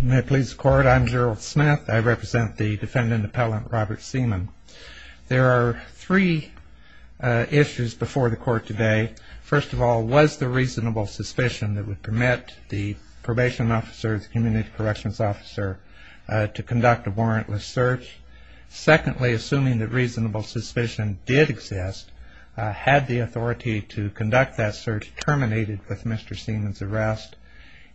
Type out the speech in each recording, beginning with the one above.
May it please the court, I'm Gerald Smith, I represent the defendant appellant Robert Seaman. There are three issues before the court today. First of all, was there reasonable suspicion that would permit the probation officer, the community corrections officer, to conduct a warrantless search? Secondly, assuming that reasonable suspicion did exist, had the authority to conduct that search terminated with Mr. Seaman's arrest?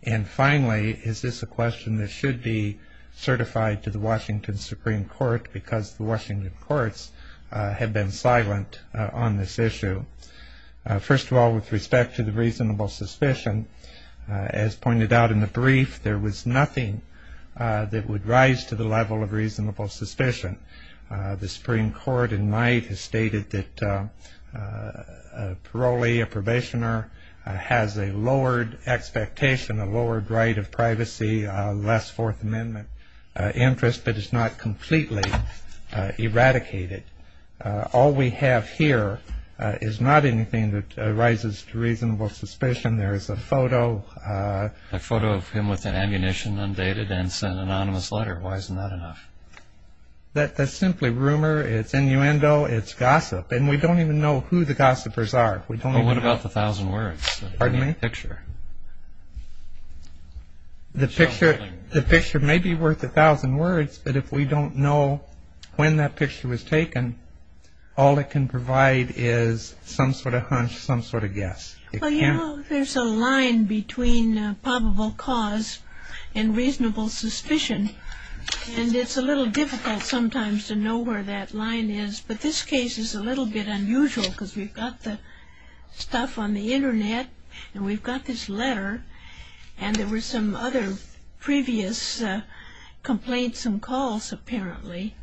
And finally, is this a question that should be certified to the Washington Supreme Court because the Washington courts have been silent on this issue? First of all, with respect to the reasonable suspicion, as pointed out in the brief, there was nothing that would rise to the level of reasonable suspicion. The Supreme Court in May has stated that a parolee, a probationer, has a lowered expectation, a lowered right of privacy, less Fourth Amendment interest, but is not completely eradicated. All we have here is not anything that rises to reasonable suspicion. There is a photo. A photo of him with an ammunition, undated, and an anonymous letter. Why isn't that enough? That's simply rumor. It's innuendo. It's gossip. And we don't even know who the gossipers are. What about the thousand words? Pardon me? The picture. The picture may be worth a thousand words, but if we don't know when that picture was taken, all it can provide is some sort of hunch, some sort of guess. Well, you know, there's a line between probable cause and reasonable suspicion, and it's a little difficult sometimes to know where that line is, but this case is a little bit unusual because we've got the stuff on the Internet and we've got this letter and there were some other previous complaints and calls, apparently.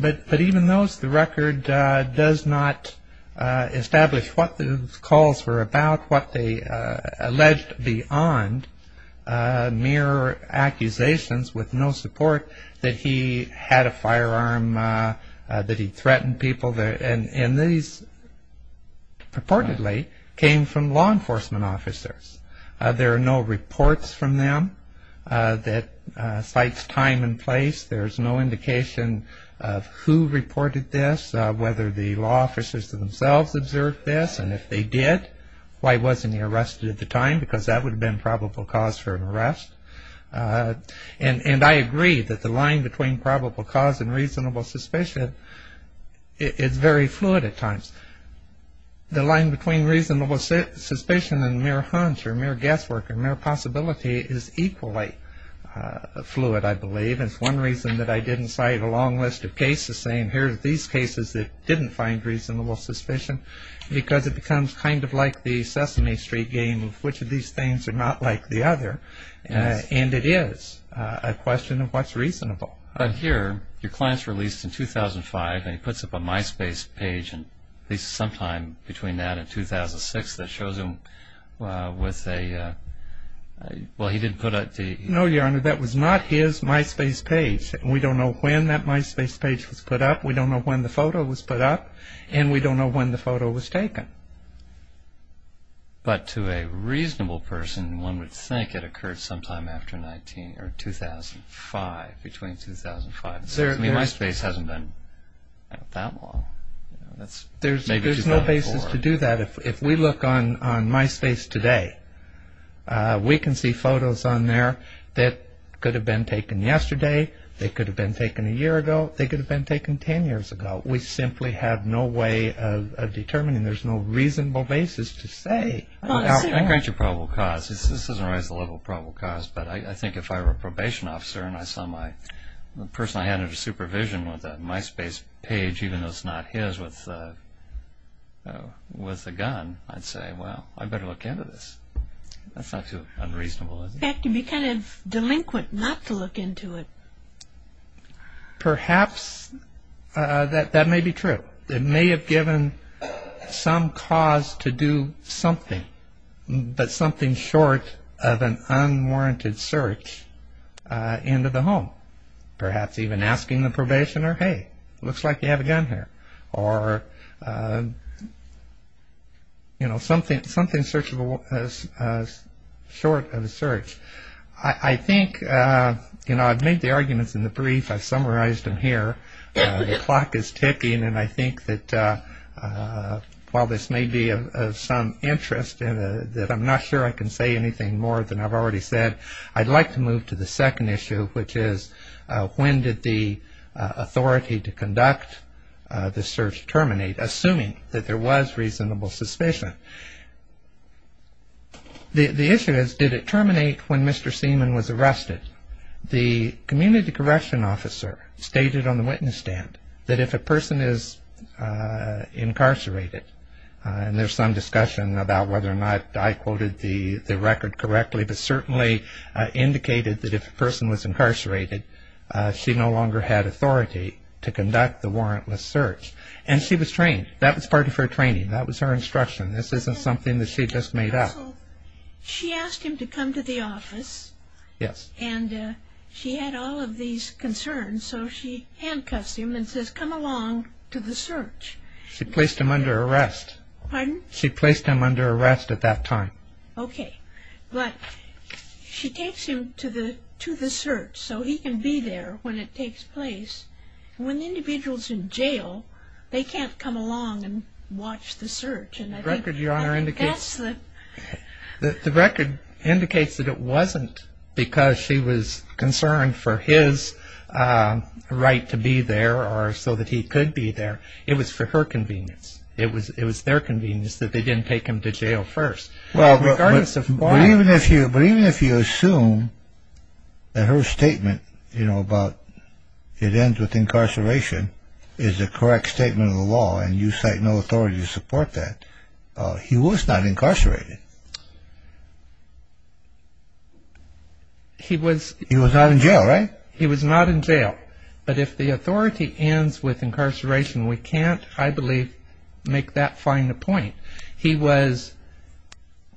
But even those, the record does not establish what those calls were about, what they alleged beyond mere accusations with no support that he had a firearm, that he threatened people, and these purportedly came from law enforcement officers. There are no reports from them that cite time and place. There's no indication of who reported this, whether the law officers themselves observed this, and if they did, why wasn't he arrested at the time? Because that would have been probable cause for an arrest. And I agree that the line between probable cause and reasonable suspicion is very fluid at times. The line between reasonable suspicion and mere hunch or mere guesswork or mere possibility is equally fluid, I believe. It's one reason that I didn't cite a long list of cases, saying here are these cases that didn't find reasonable suspicion, because it becomes kind of like the Sesame Street game of which of these things are not like the other, and it is a question of what's reasonable. But here, your client's released in 2005, and he puts up a MySpace page sometime between that and 2006 that shows him with a... No, Your Honor, that was not his MySpace page. We don't know when that MySpace page was put up, we don't know when the photo was put up, and we don't know when the photo was taken. But to a reasonable person, one would think it occurred sometime after 19... or 2005, between 2005 and 2006. I mean, MySpace hasn't been out that long. There's no basis to do that. If we look on MySpace today, we can see photos on there that could have been taken yesterday, they could have been taken a year ago, they could have been taken ten years ago. We simply have no way of determining, there's no reasonable basis to say. I think that's a probable cause. This doesn't raise the level of probable cause, but I think if I were a probation officer and I saw the person I had under supervision with a MySpace page, even though it's not his, with a gun, I'd say, well, I'd better look into this. That's not too unreasonable, is it? In fact, it would be kind of delinquent not to look into it. Perhaps that may be true. It may have given some cause to do something, but something short of an unwarranted search into the home. Perhaps even asking the probationer, hey, looks like you have a gun here. Or, you know, something short of a search. I think, you know, I've made the arguments in the brief. I've summarized them here. The clock is ticking, and I think that while this may be of some interest and that I'm not sure I can say anything more than I've already said, I'd like to move to the second issue, which is when did the authority to conduct the search terminate, assuming that there was reasonable suspicion? The issue is, did it terminate when Mr. Seaman was arrested? The community correction officer stated on the witness stand that if a person is incarcerated, and there's some discussion about whether or not I quoted the record correctly, but certainly indicated that if a person was incarcerated, she no longer had authority to conduct the warrantless search. And she was trained. That was part of her training. That was her instruction. This isn't something that she just made up. She asked him to come to the office. Yes. And she had all of these concerns, so she handcuffs him and says, come along to the search. She placed him under arrest. Pardon? She placed him under arrest at that time. Okay. But she takes him to the search so he can be there when it takes place. When the individual is in jail, they can't come along and watch the search. The record, Your Honor, indicates that it wasn't because she was concerned for his right to be there or so that he could be there. It was for her convenience. It was their convenience that they didn't take him to jail first. But even if you assume that her statement about it ends with incarceration is the correct statement of the law and you cite no authority to support that, he was not incarcerated. He was not in jail, right? He was not in jail. But if the authority ends with incarceration, we can't, I believe, make that fine a point. He was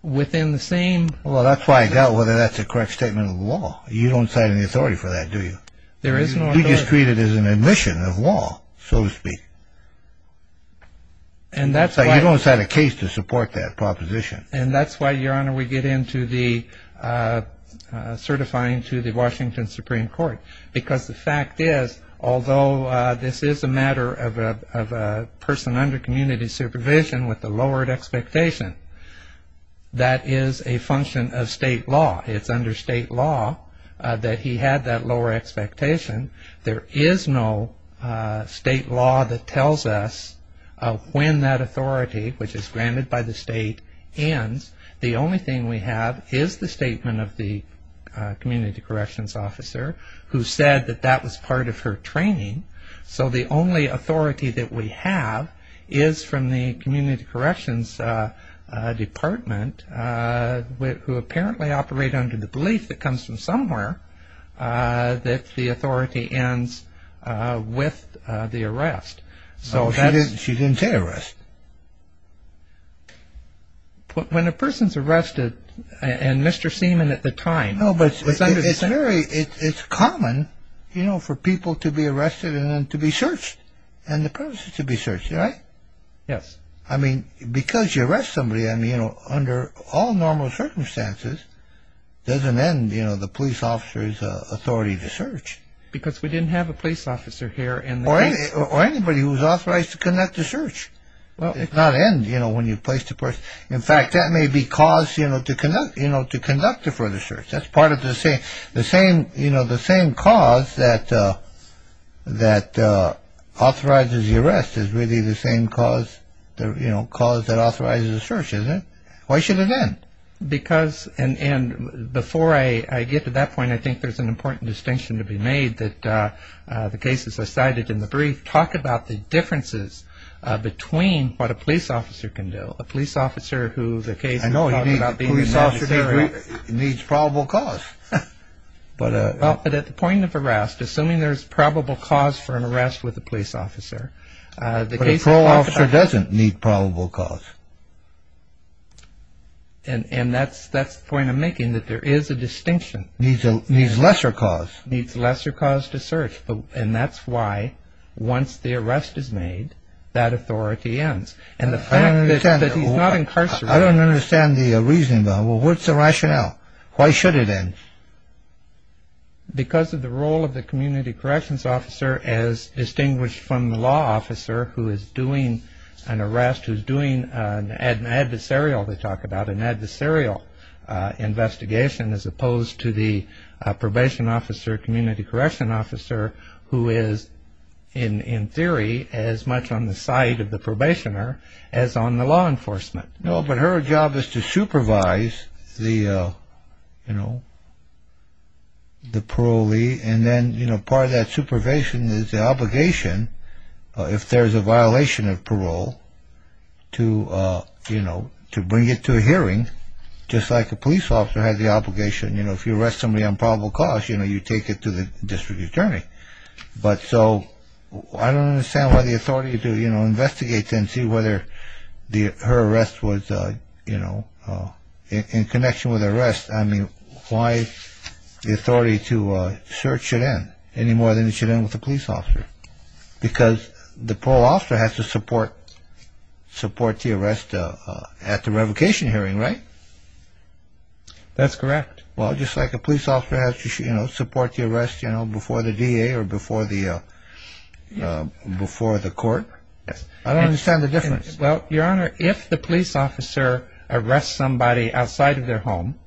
within the same. Well, that's why I doubt whether that's a correct statement of the law. You don't cite any authority for that, do you? There is no authority. He is treated as an admission of law, so to speak. You don't cite a case to support that proposition. And that's why, Your Honor, we get into the certifying to the Washington Supreme Court because the fact is, although this is a matter of a person under community supervision with a lowered expectation, that is a function of state law. It's under state law that he had that lower expectation. There is no state law that tells us when that authority, which is granted by the state, ends. The only thing we have is the statement of the community corrections officer who said that that was part of her training. So the only authority that we have is from the community corrections department who apparently operate under the belief that comes from somewhere that the authority ends with the arrest. She didn't say arrest. When a person is arrested, and Mr. Seaman at the time was under the... No, but it's very, it's common, you know, for people to be arrested and then to be searched and the person to be searched, right? Yes. I mean, because you arrest somebody, I mean, you know, under all normal circumstances, doesn't end, you know, the police officer's authority to search. Because we didn't have a police officer here and... Or anybody who was authorized to conduct the search. It does not end, you know, when you place the person. In fact, that may be cause, you know, to conduct it for the search. That's part of the same, you know, the same cause that authorizes the arrest is really the same cause that authorizes the search, isn't it? Why should it end? Because, and before I get to that point, I think there's an important distinction to be made that the cases I cited in the brief talk about the differences between what a police officer can do. A police officer who the case... I know, a police officer needs probable cause. But at the point of arrest, assuming there's probable cause for an arrest with a police officer... But a parole officer doesn't need probable cause. And that's the point I'm making, that there is a distinction. Needs lesser cause. Needs lesser cause to search. And that's why, once the arrest is made, that authority ends. And the fact that he's not incarcerated... I don't understand the reasoning, though. What's the rationale? Why should it end? Because of the role of the community corrections officer as distinguished from the law officer who is doing an arrest, who's doing an adversarial, they talk about, an adversarial investigation as opposed to the probation officer, community correction officer, who is, in theory, as much on the side of the probationer as on the law enforcement. No, but her job is to supervise the parolee. And then part of that supervision is the obligation, if there's a violation of parole, to bring it to a hearing, just like a police officer has the obligation. If you arrest somebody on probable cause, you take it to the district attorney. But so I don't understand why the authority to investigate and see whether her arrest was in connection with arrest. I mean, why the authority to search should end any more than it should end with the police officer? Because the parole officer has to support the arrest at the revocation hearing, right? That's correct. Well, just like a police officer has to support the arrest before the DA or before the court. I don't understand the difference. Well, Your Honor, if the police officer arrests somebody outside of their home,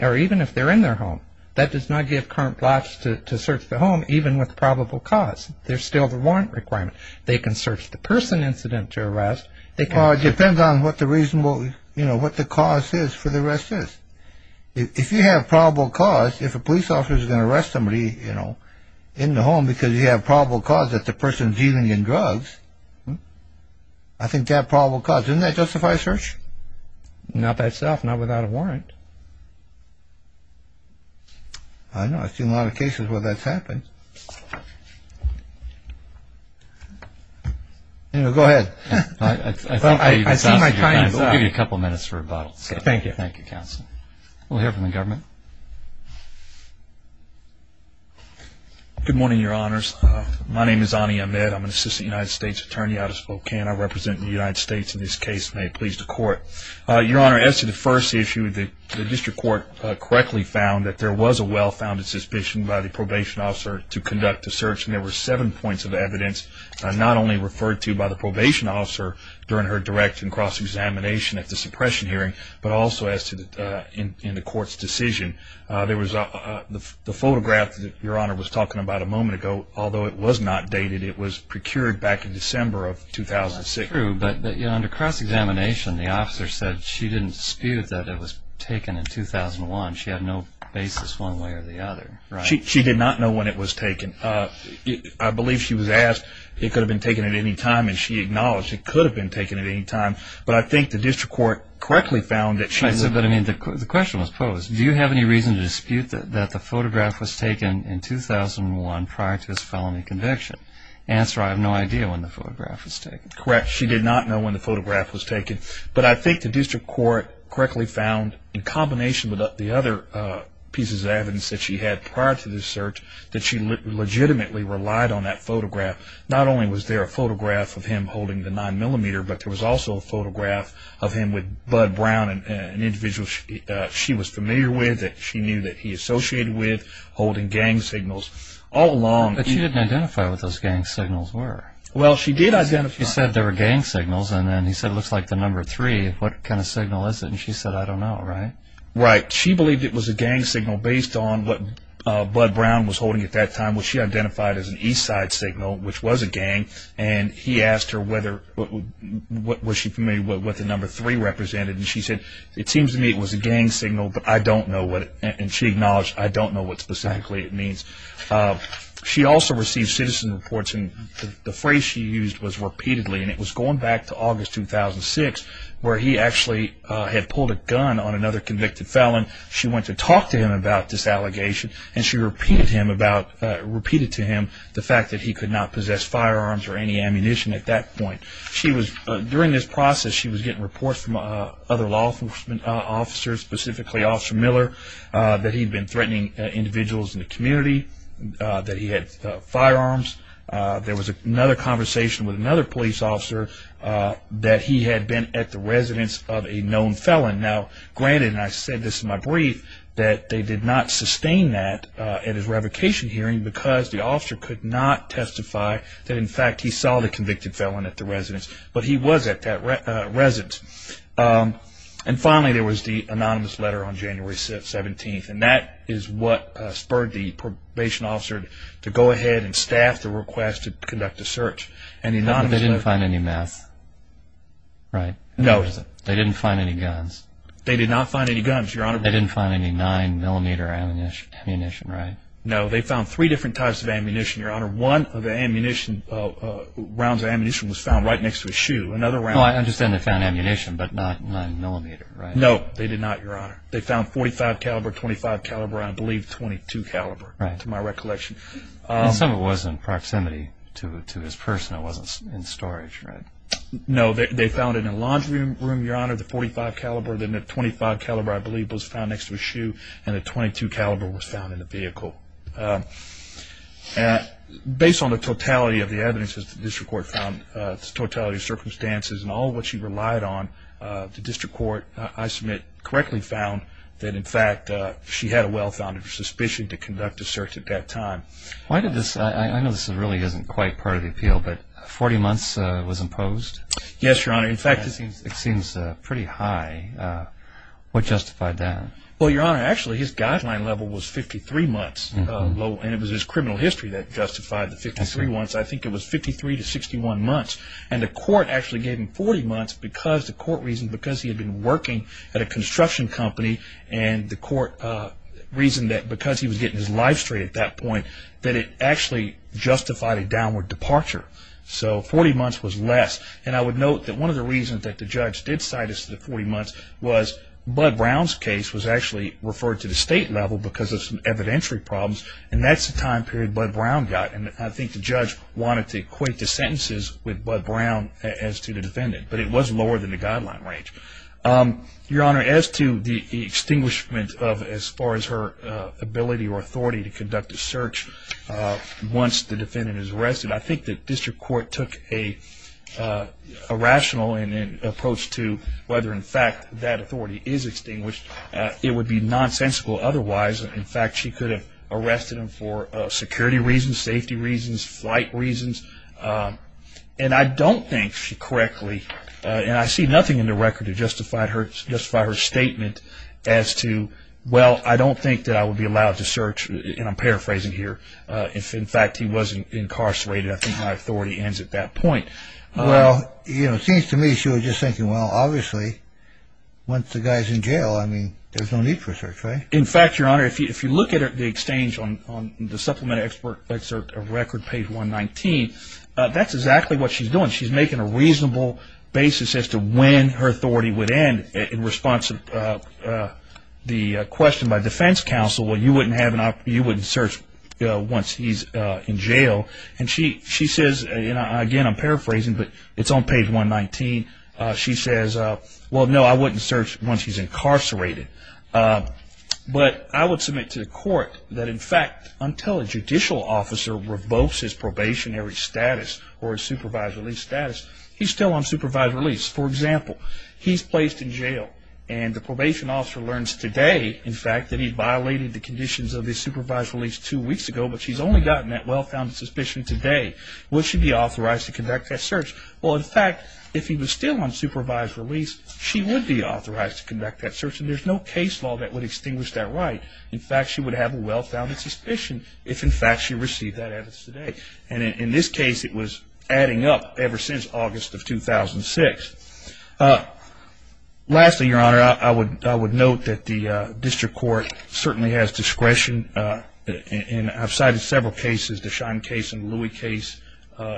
or even if they're in their home, that does not give current blocks to search the home, even with probable cause. There's still the warrant requirement. They can search the person incident to arrest. Well, it depends on what the reasonable, you know, what the cause is for the arrest is. If you have probable cause, if a police officer is going to arrest somebody, you know, in the home because you have probable cause that the person is dealing in drugs, I think they have probable cause. Doesn't that justify a search? Not by itself, not without a warrant. I don't know. I've seen a lot of cases where that's happened. Go ahead. I see my time is up. We'll give you a couple minutes for rebuttal. Thank you. Thank you, counsel. We'll hear from the government. Good morning, Your Honors. My name is Ani Ahmed. I'm an assistant United States attorney out of Spokane. I represent the United States in this case. May it please the court. Your Honor, as to the first issue, the district court correctly found that there was a well-founded suspicion by the probation officer to conduct the search, and there were seven points of evidence not only referred to by the probation officer during her direct and cross-examination at the suppression hearing, but also in the court's decision. There was the photograph that Your Honor was talking about a moment ago, although it was not dated. It was procured back in December of 2006. That's true, but under cross-examination, the officer said she didn't dispute that it was taken in 2001. She had no basis one way or the other. She did not know when it was taken. I believe she was asked, it could have been taken at any time, and she acknowledged it could have been taken at any time. But I think the district court correctly found that she was the one. The question was posed. Do you have any reason to dispute that the photograph was taken in 2001 prior to his felony conviction? Answer, I have no idea when the photograph was taken. Correct. She did not know when the photograph was taken. But I think the district court correctly found, in combination with the other pieces of evidence that she had prior to this search, that she legitimately relied on that photograph. Not only was there a photograph of him holding the 9mm, but there was also a photograph of him with Bud Brown, an individual she was familiar with, that she knew that he associated with, holding gang signals all along. But she didn't identify what those gang signals were. Well, she did identify them. She said there were gang signals, and then he said, looks like the number 3. What kind of signal is it? And she said, I don't know, right? Right. She believed it was a gang signal based on what Bud Brown was holding at that time, which she identified as an Eastside signal, which was a gang. And he asked her, was she familiar with what the number 3 represented? And she said, it seems to me it was a gang signal, but I don't know. And she acknowledged, I don't know what specifically it means. She also received citizen reports, and the phrase she used was repeatedly. And it was going back to August 2006, where he actually had pulled a gun on another convicted felon. She went to talk to him about this allegation, and she repeated to him the fact that he could not possess firearms or any ammunition at that point. During this process, she was getting reports from other law enforcement officers, specifically Officer Miller, that he had been threatening individuals in the community, that he had firearms. There was another conversation with another police officer that he had been at the residence of a known felon. Now, granted, and I said this in my brief, that they did not sustain that at his revocation hearing because the officer could not testify that, in fact, he saw the convicted felon at the residence. But he was at that residence. And finally, there was the anonymous letter on January 17th, and that is what spurred the probation officer to go ahead and staff the request to conduct the search. But they didn't find any meth, right? No. They didn't find any guns? They did not find any guns, Your Honor. They didn't find any 9mm ammunition, right? No, they found three different types of ammunition, Your Honor. One of the rounds of ammunition was found right next to his shoe. Well, I understand they found ammunition, but not 9mm, right? No, they did not, Your Honor. They found .45 caliber, .25 caliber, and I believe .22 caliber, to my recollection. Some of it was in proximity to his person. It wasn't in storage, right? No, they found it in a laundry room, Your Honor, the .45 caliber. Then the .25 caliber, I believe, was found next to his shoe, and the .22 caliber was found in the vehicle. Based on the totality of the evidence that the district court found, the totality of circumstances and all of what she relied on, she had a well-founded suspicion to conduct a search at that time. I know this really isn't quite part of the appeal, but 40 months was imposed? Yes, Your Honor. In fact, it seems pretty high. What justified that? Well, Your Honor, actually his guideline level was 53 months, and it was his criminal history that justified the 53 months. I think it was 53 to 61 months, and the court actually gave him 40 months because the court reasoned, because he was getting his life straight at that point, that it actually justified a downward departure. So 40 months was less. I would note that one of the reasons that the judge did cite it as 40 months was Bud Brown's case was actually referred to the state level because of some evidentiary problems, and that's the time period Bud Brown got. I think the judge wanted to equate the sentences with Bud Brown as to the defendant, but it was lower than the guideline range. Your Honor, as to the extinguishment as far as her ability or authority to conduct a search once the defendant is arrested, I think the district court took a rational approach to whether, in fact, that authority is extinguished. It would be nonsensical otherwise. In fact, she could have arrested him for security reasons, safety reasons, flight reasons, and I don't think she correctly, and I see nothing in the record to justify her statement as to, well, I don't think that I would be allowed to search, and I'm paraphrasing here, if, in fact, he wasn't incarcerated. I think my authority ends at that point. Well, you know, it seems to me she was just thinking, well, obviously, once the guy's in jail, I mean, there's no need for a search, right? In fact, Your Honor, if you look at the exchange on the Supplementary Excerpt of Record, page 119, that's exactly what she's doing. She's making a reasonable basis as to when her authority would end in response to the question by defense counsel, well, you wouldn't search once he's in jail. And she says, again, I'm paraphrasing, but it's on page 119. She says, well, no, I wouldn't search once he's incarcerated. But I would submit to the court that, in fact, until a judicial officer revokes his probationary status or his supervised release status, he's still on supervised release. For example, he's placed in jail, and the probation officer learns today, in fact, that he violated the conditions of his supervised release two weeks ago, but she's only gotten that well-founded suspicion today. Would she be authorized to conduct that search? Well, in fact, if he was still on supervised release, she would be authorized to conduct that search, and there's no case law that would extinguish that right. In fact, she would have a well-founded suspicion if, in fact, she received that evidence today. And in this case, it was adding up ever since August of 2006. Lastly, Your Honor, I would note that the district court certainly has discretion, and I've cited several cases, the Schein case and the Louis case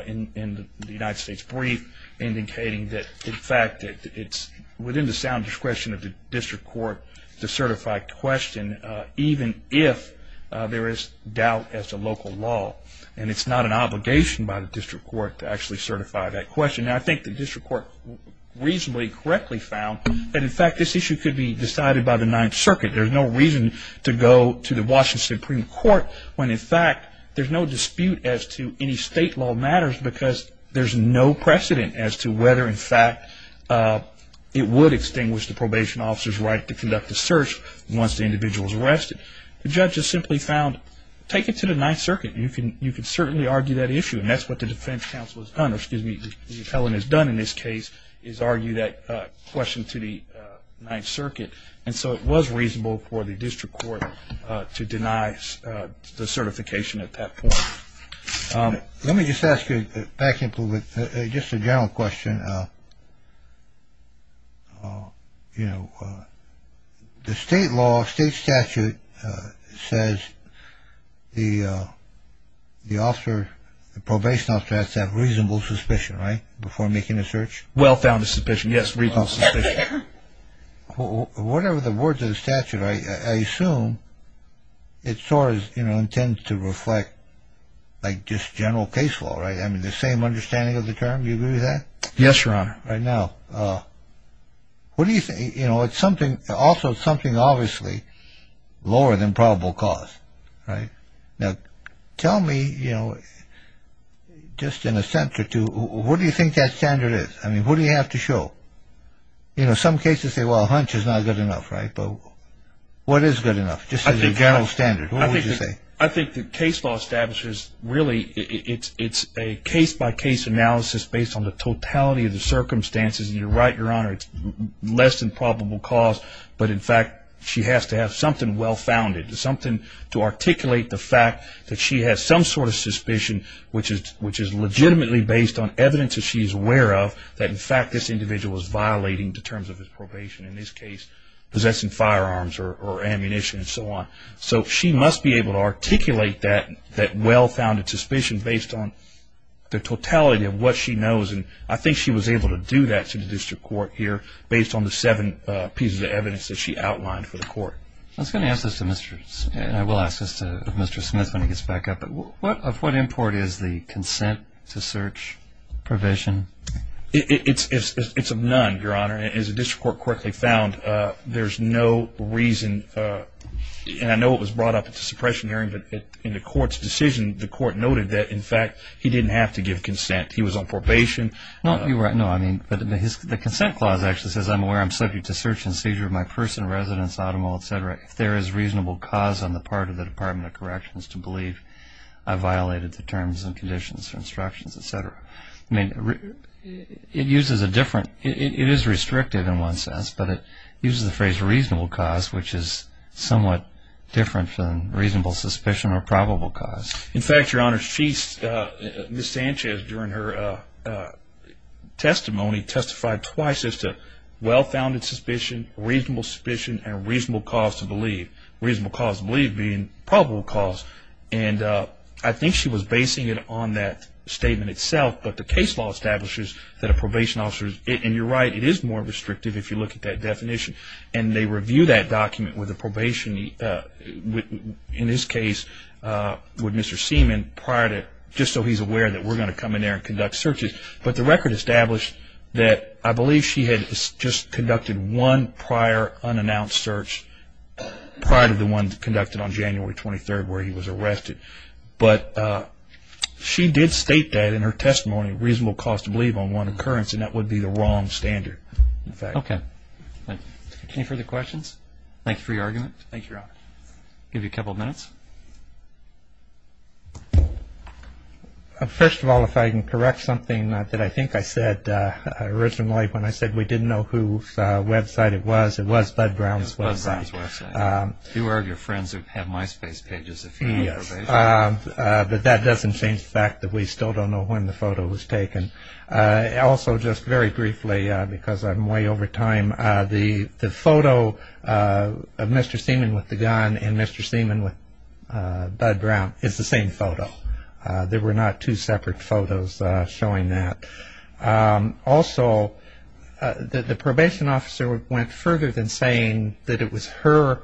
in the United States brief, indicating that, in fact, it's within the sound discretion of the district court to certify question, even if there is doubt as to local law. And it's not an obligation by the district court to actually certify that question. And I think the district court reasonably correctly found that, in fact, this issue could be decided by the Ninth Circuit. There's no reason to go to the Washington Supreme Court when, in fact, there's no dispute as to any state law matters because there's no precedent as to whether, in fact, it would extinguish the probation officer's right to conduct the search once the individual is arrested. The judge has simply found, take it to the Ninth Circuit. You can certainly argue that issue, and that's what the defense counsel has done, or excuse me, the appellant has done in this case, is argue that question to the Ninth Circuit. And so it was reasonable for the district court to deny the certification at that point. Let me just ask you, back in a little bit, just a general question. You know, the state law, state statute says the officer, the probation officer has to have reasonable suspicion, right, before making a search? Well-founded suspicion, yes, reasonable suspicion. Whatever the words of the statute, I assume it sort of intends to reflect, like, just general case law, right? I mean, the same understanding of the term? Do you agree with that? Yes, Your Honor. Right now. What do you think? You know, it's something, also it's something obviously lower than probable cause, right? Now, tell me, you know, just in a sense or two, what do you think that standard is? I mean, what do you have to show? You know, some cases say, well, hunch is not good enough, right? But what is good enough, just as a general standard? What would you say? I think the case law establishes, really, it's a case-by-case analysis based on the totality of the circumstances, and you're right, Your Honor, it's less than probable cause, but, in fact, she has to have something well-founded, something to articulate the fact that she has some sort of suspicion, which is legitimately based on evidence that she's aware of, that, in fact, this individual is violating the terms of his probation, in this case, possessing firearms or ammunition and so on. So she must be able to articulate that well-founded suspicion based on the totality of what she knows, and I think she was able to do that to the district court here based on the seven pieces of evidence that she outlined for the court. I was going to ask this to Mr. Smith, and I will ask this to Mr. Smith when he gets back up, but of what import is the consent-to-search provision? It's a none, Your Honor. As the district court quickly found, there's no reason, and I know it was brought up at the suppression hearing, but in the court's decision, the court noted that, in fact, he didn't have to give consent. He was on probation. No, you're right. No, I mean, but the consent clause actually says, I'm aware I'm subject to search and seizure of my person, residence, automobile, et cetera, if there is reasonable cause on the part of the Department of Corrections to believe I violated the terms and conditions or instructions, et cetera. I mean, it uses a different ‑‑ it is restrictive in one sense, but it uses the phrase reasonable cause, which is somewhat different from reasonable suspicion or probable cause. In fact, Your Honor, Ms. Sanchez, during her testimony, testified twice as to well-founded suspicion, reasonable suspicion, and reasonable cause to believe, reasonable cause to believe being probable cause. And I think she was basing it on that statement itself, but the case law establishes that a probation officer, and you're right, it is more restrictive if you look at that definition, and they review that document with a probation, in this case, with Mr. Seaman prior to, just so he's aware that we're going to come in there and conduct searches. But the record established that I believe she had just conducted one prior unannounced search prior to the one conducted on January 23rd where he was arrested. But she did state that in her testimony, reasonable cause to believe on one occurrence, and that would be the wrong standard. Okay. Thank you. Any further questions? Thank you for your argument. Thank you, Your Honor. I'll give you a couple of minutes. First of all, if I can correct something that I think I said originally when I said we didn't know whose website it was, it was Bud Brown's website. It was Bud Brown's website. Fewer of your friends have MySpace pages, if you have information. Yes. But that doesn't change the fact that we still don't know when the photo was taken. Also, just very briefly, because I'm way over time, the photo of Mr. Seaman with the gun and Mr. Seaman with Bud Brown is the same photo. There were not two separate photos showing that. Also, the probation officer went further than saying that it was her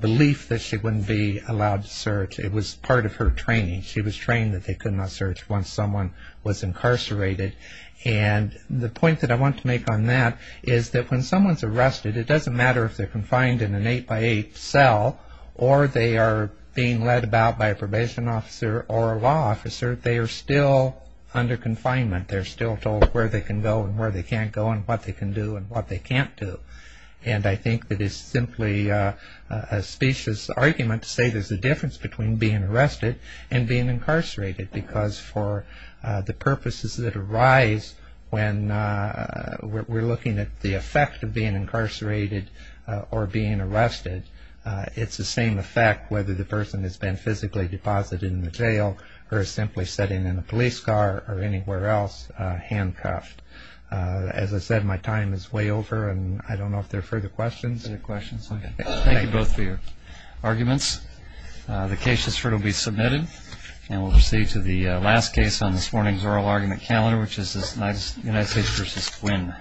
belief that she wouldn't be allowed to search. It was part of her training. She was trained that they could not search once someone was incarcerated. And the point that I want to make on that is that when someone's arrested, it doesn't matter if they're confined in an eight-by-eight cell or they are being led about by a probation officer or a law officer, they are still under confinement. They're still told where they can go and where they can't go and what they can do and what they can't do. And I think that it's simply a specious argument to say there's a difference between being arrested and being incarcerated because for the purposes that arise when we're looking at the effect of being incarcerated or being arrested, it's the same effect whether the person has been physically deposited in the jail or is simply sitting in a police car or anywhere else handcuffed. As I said, my time is way over, and I don't know if there are further questions. Are there questions? Thank you both for your arguments. The case has been submitted, and we'll proceed to the last case on this morning's oral argument calendar, which is United States v. Quinn.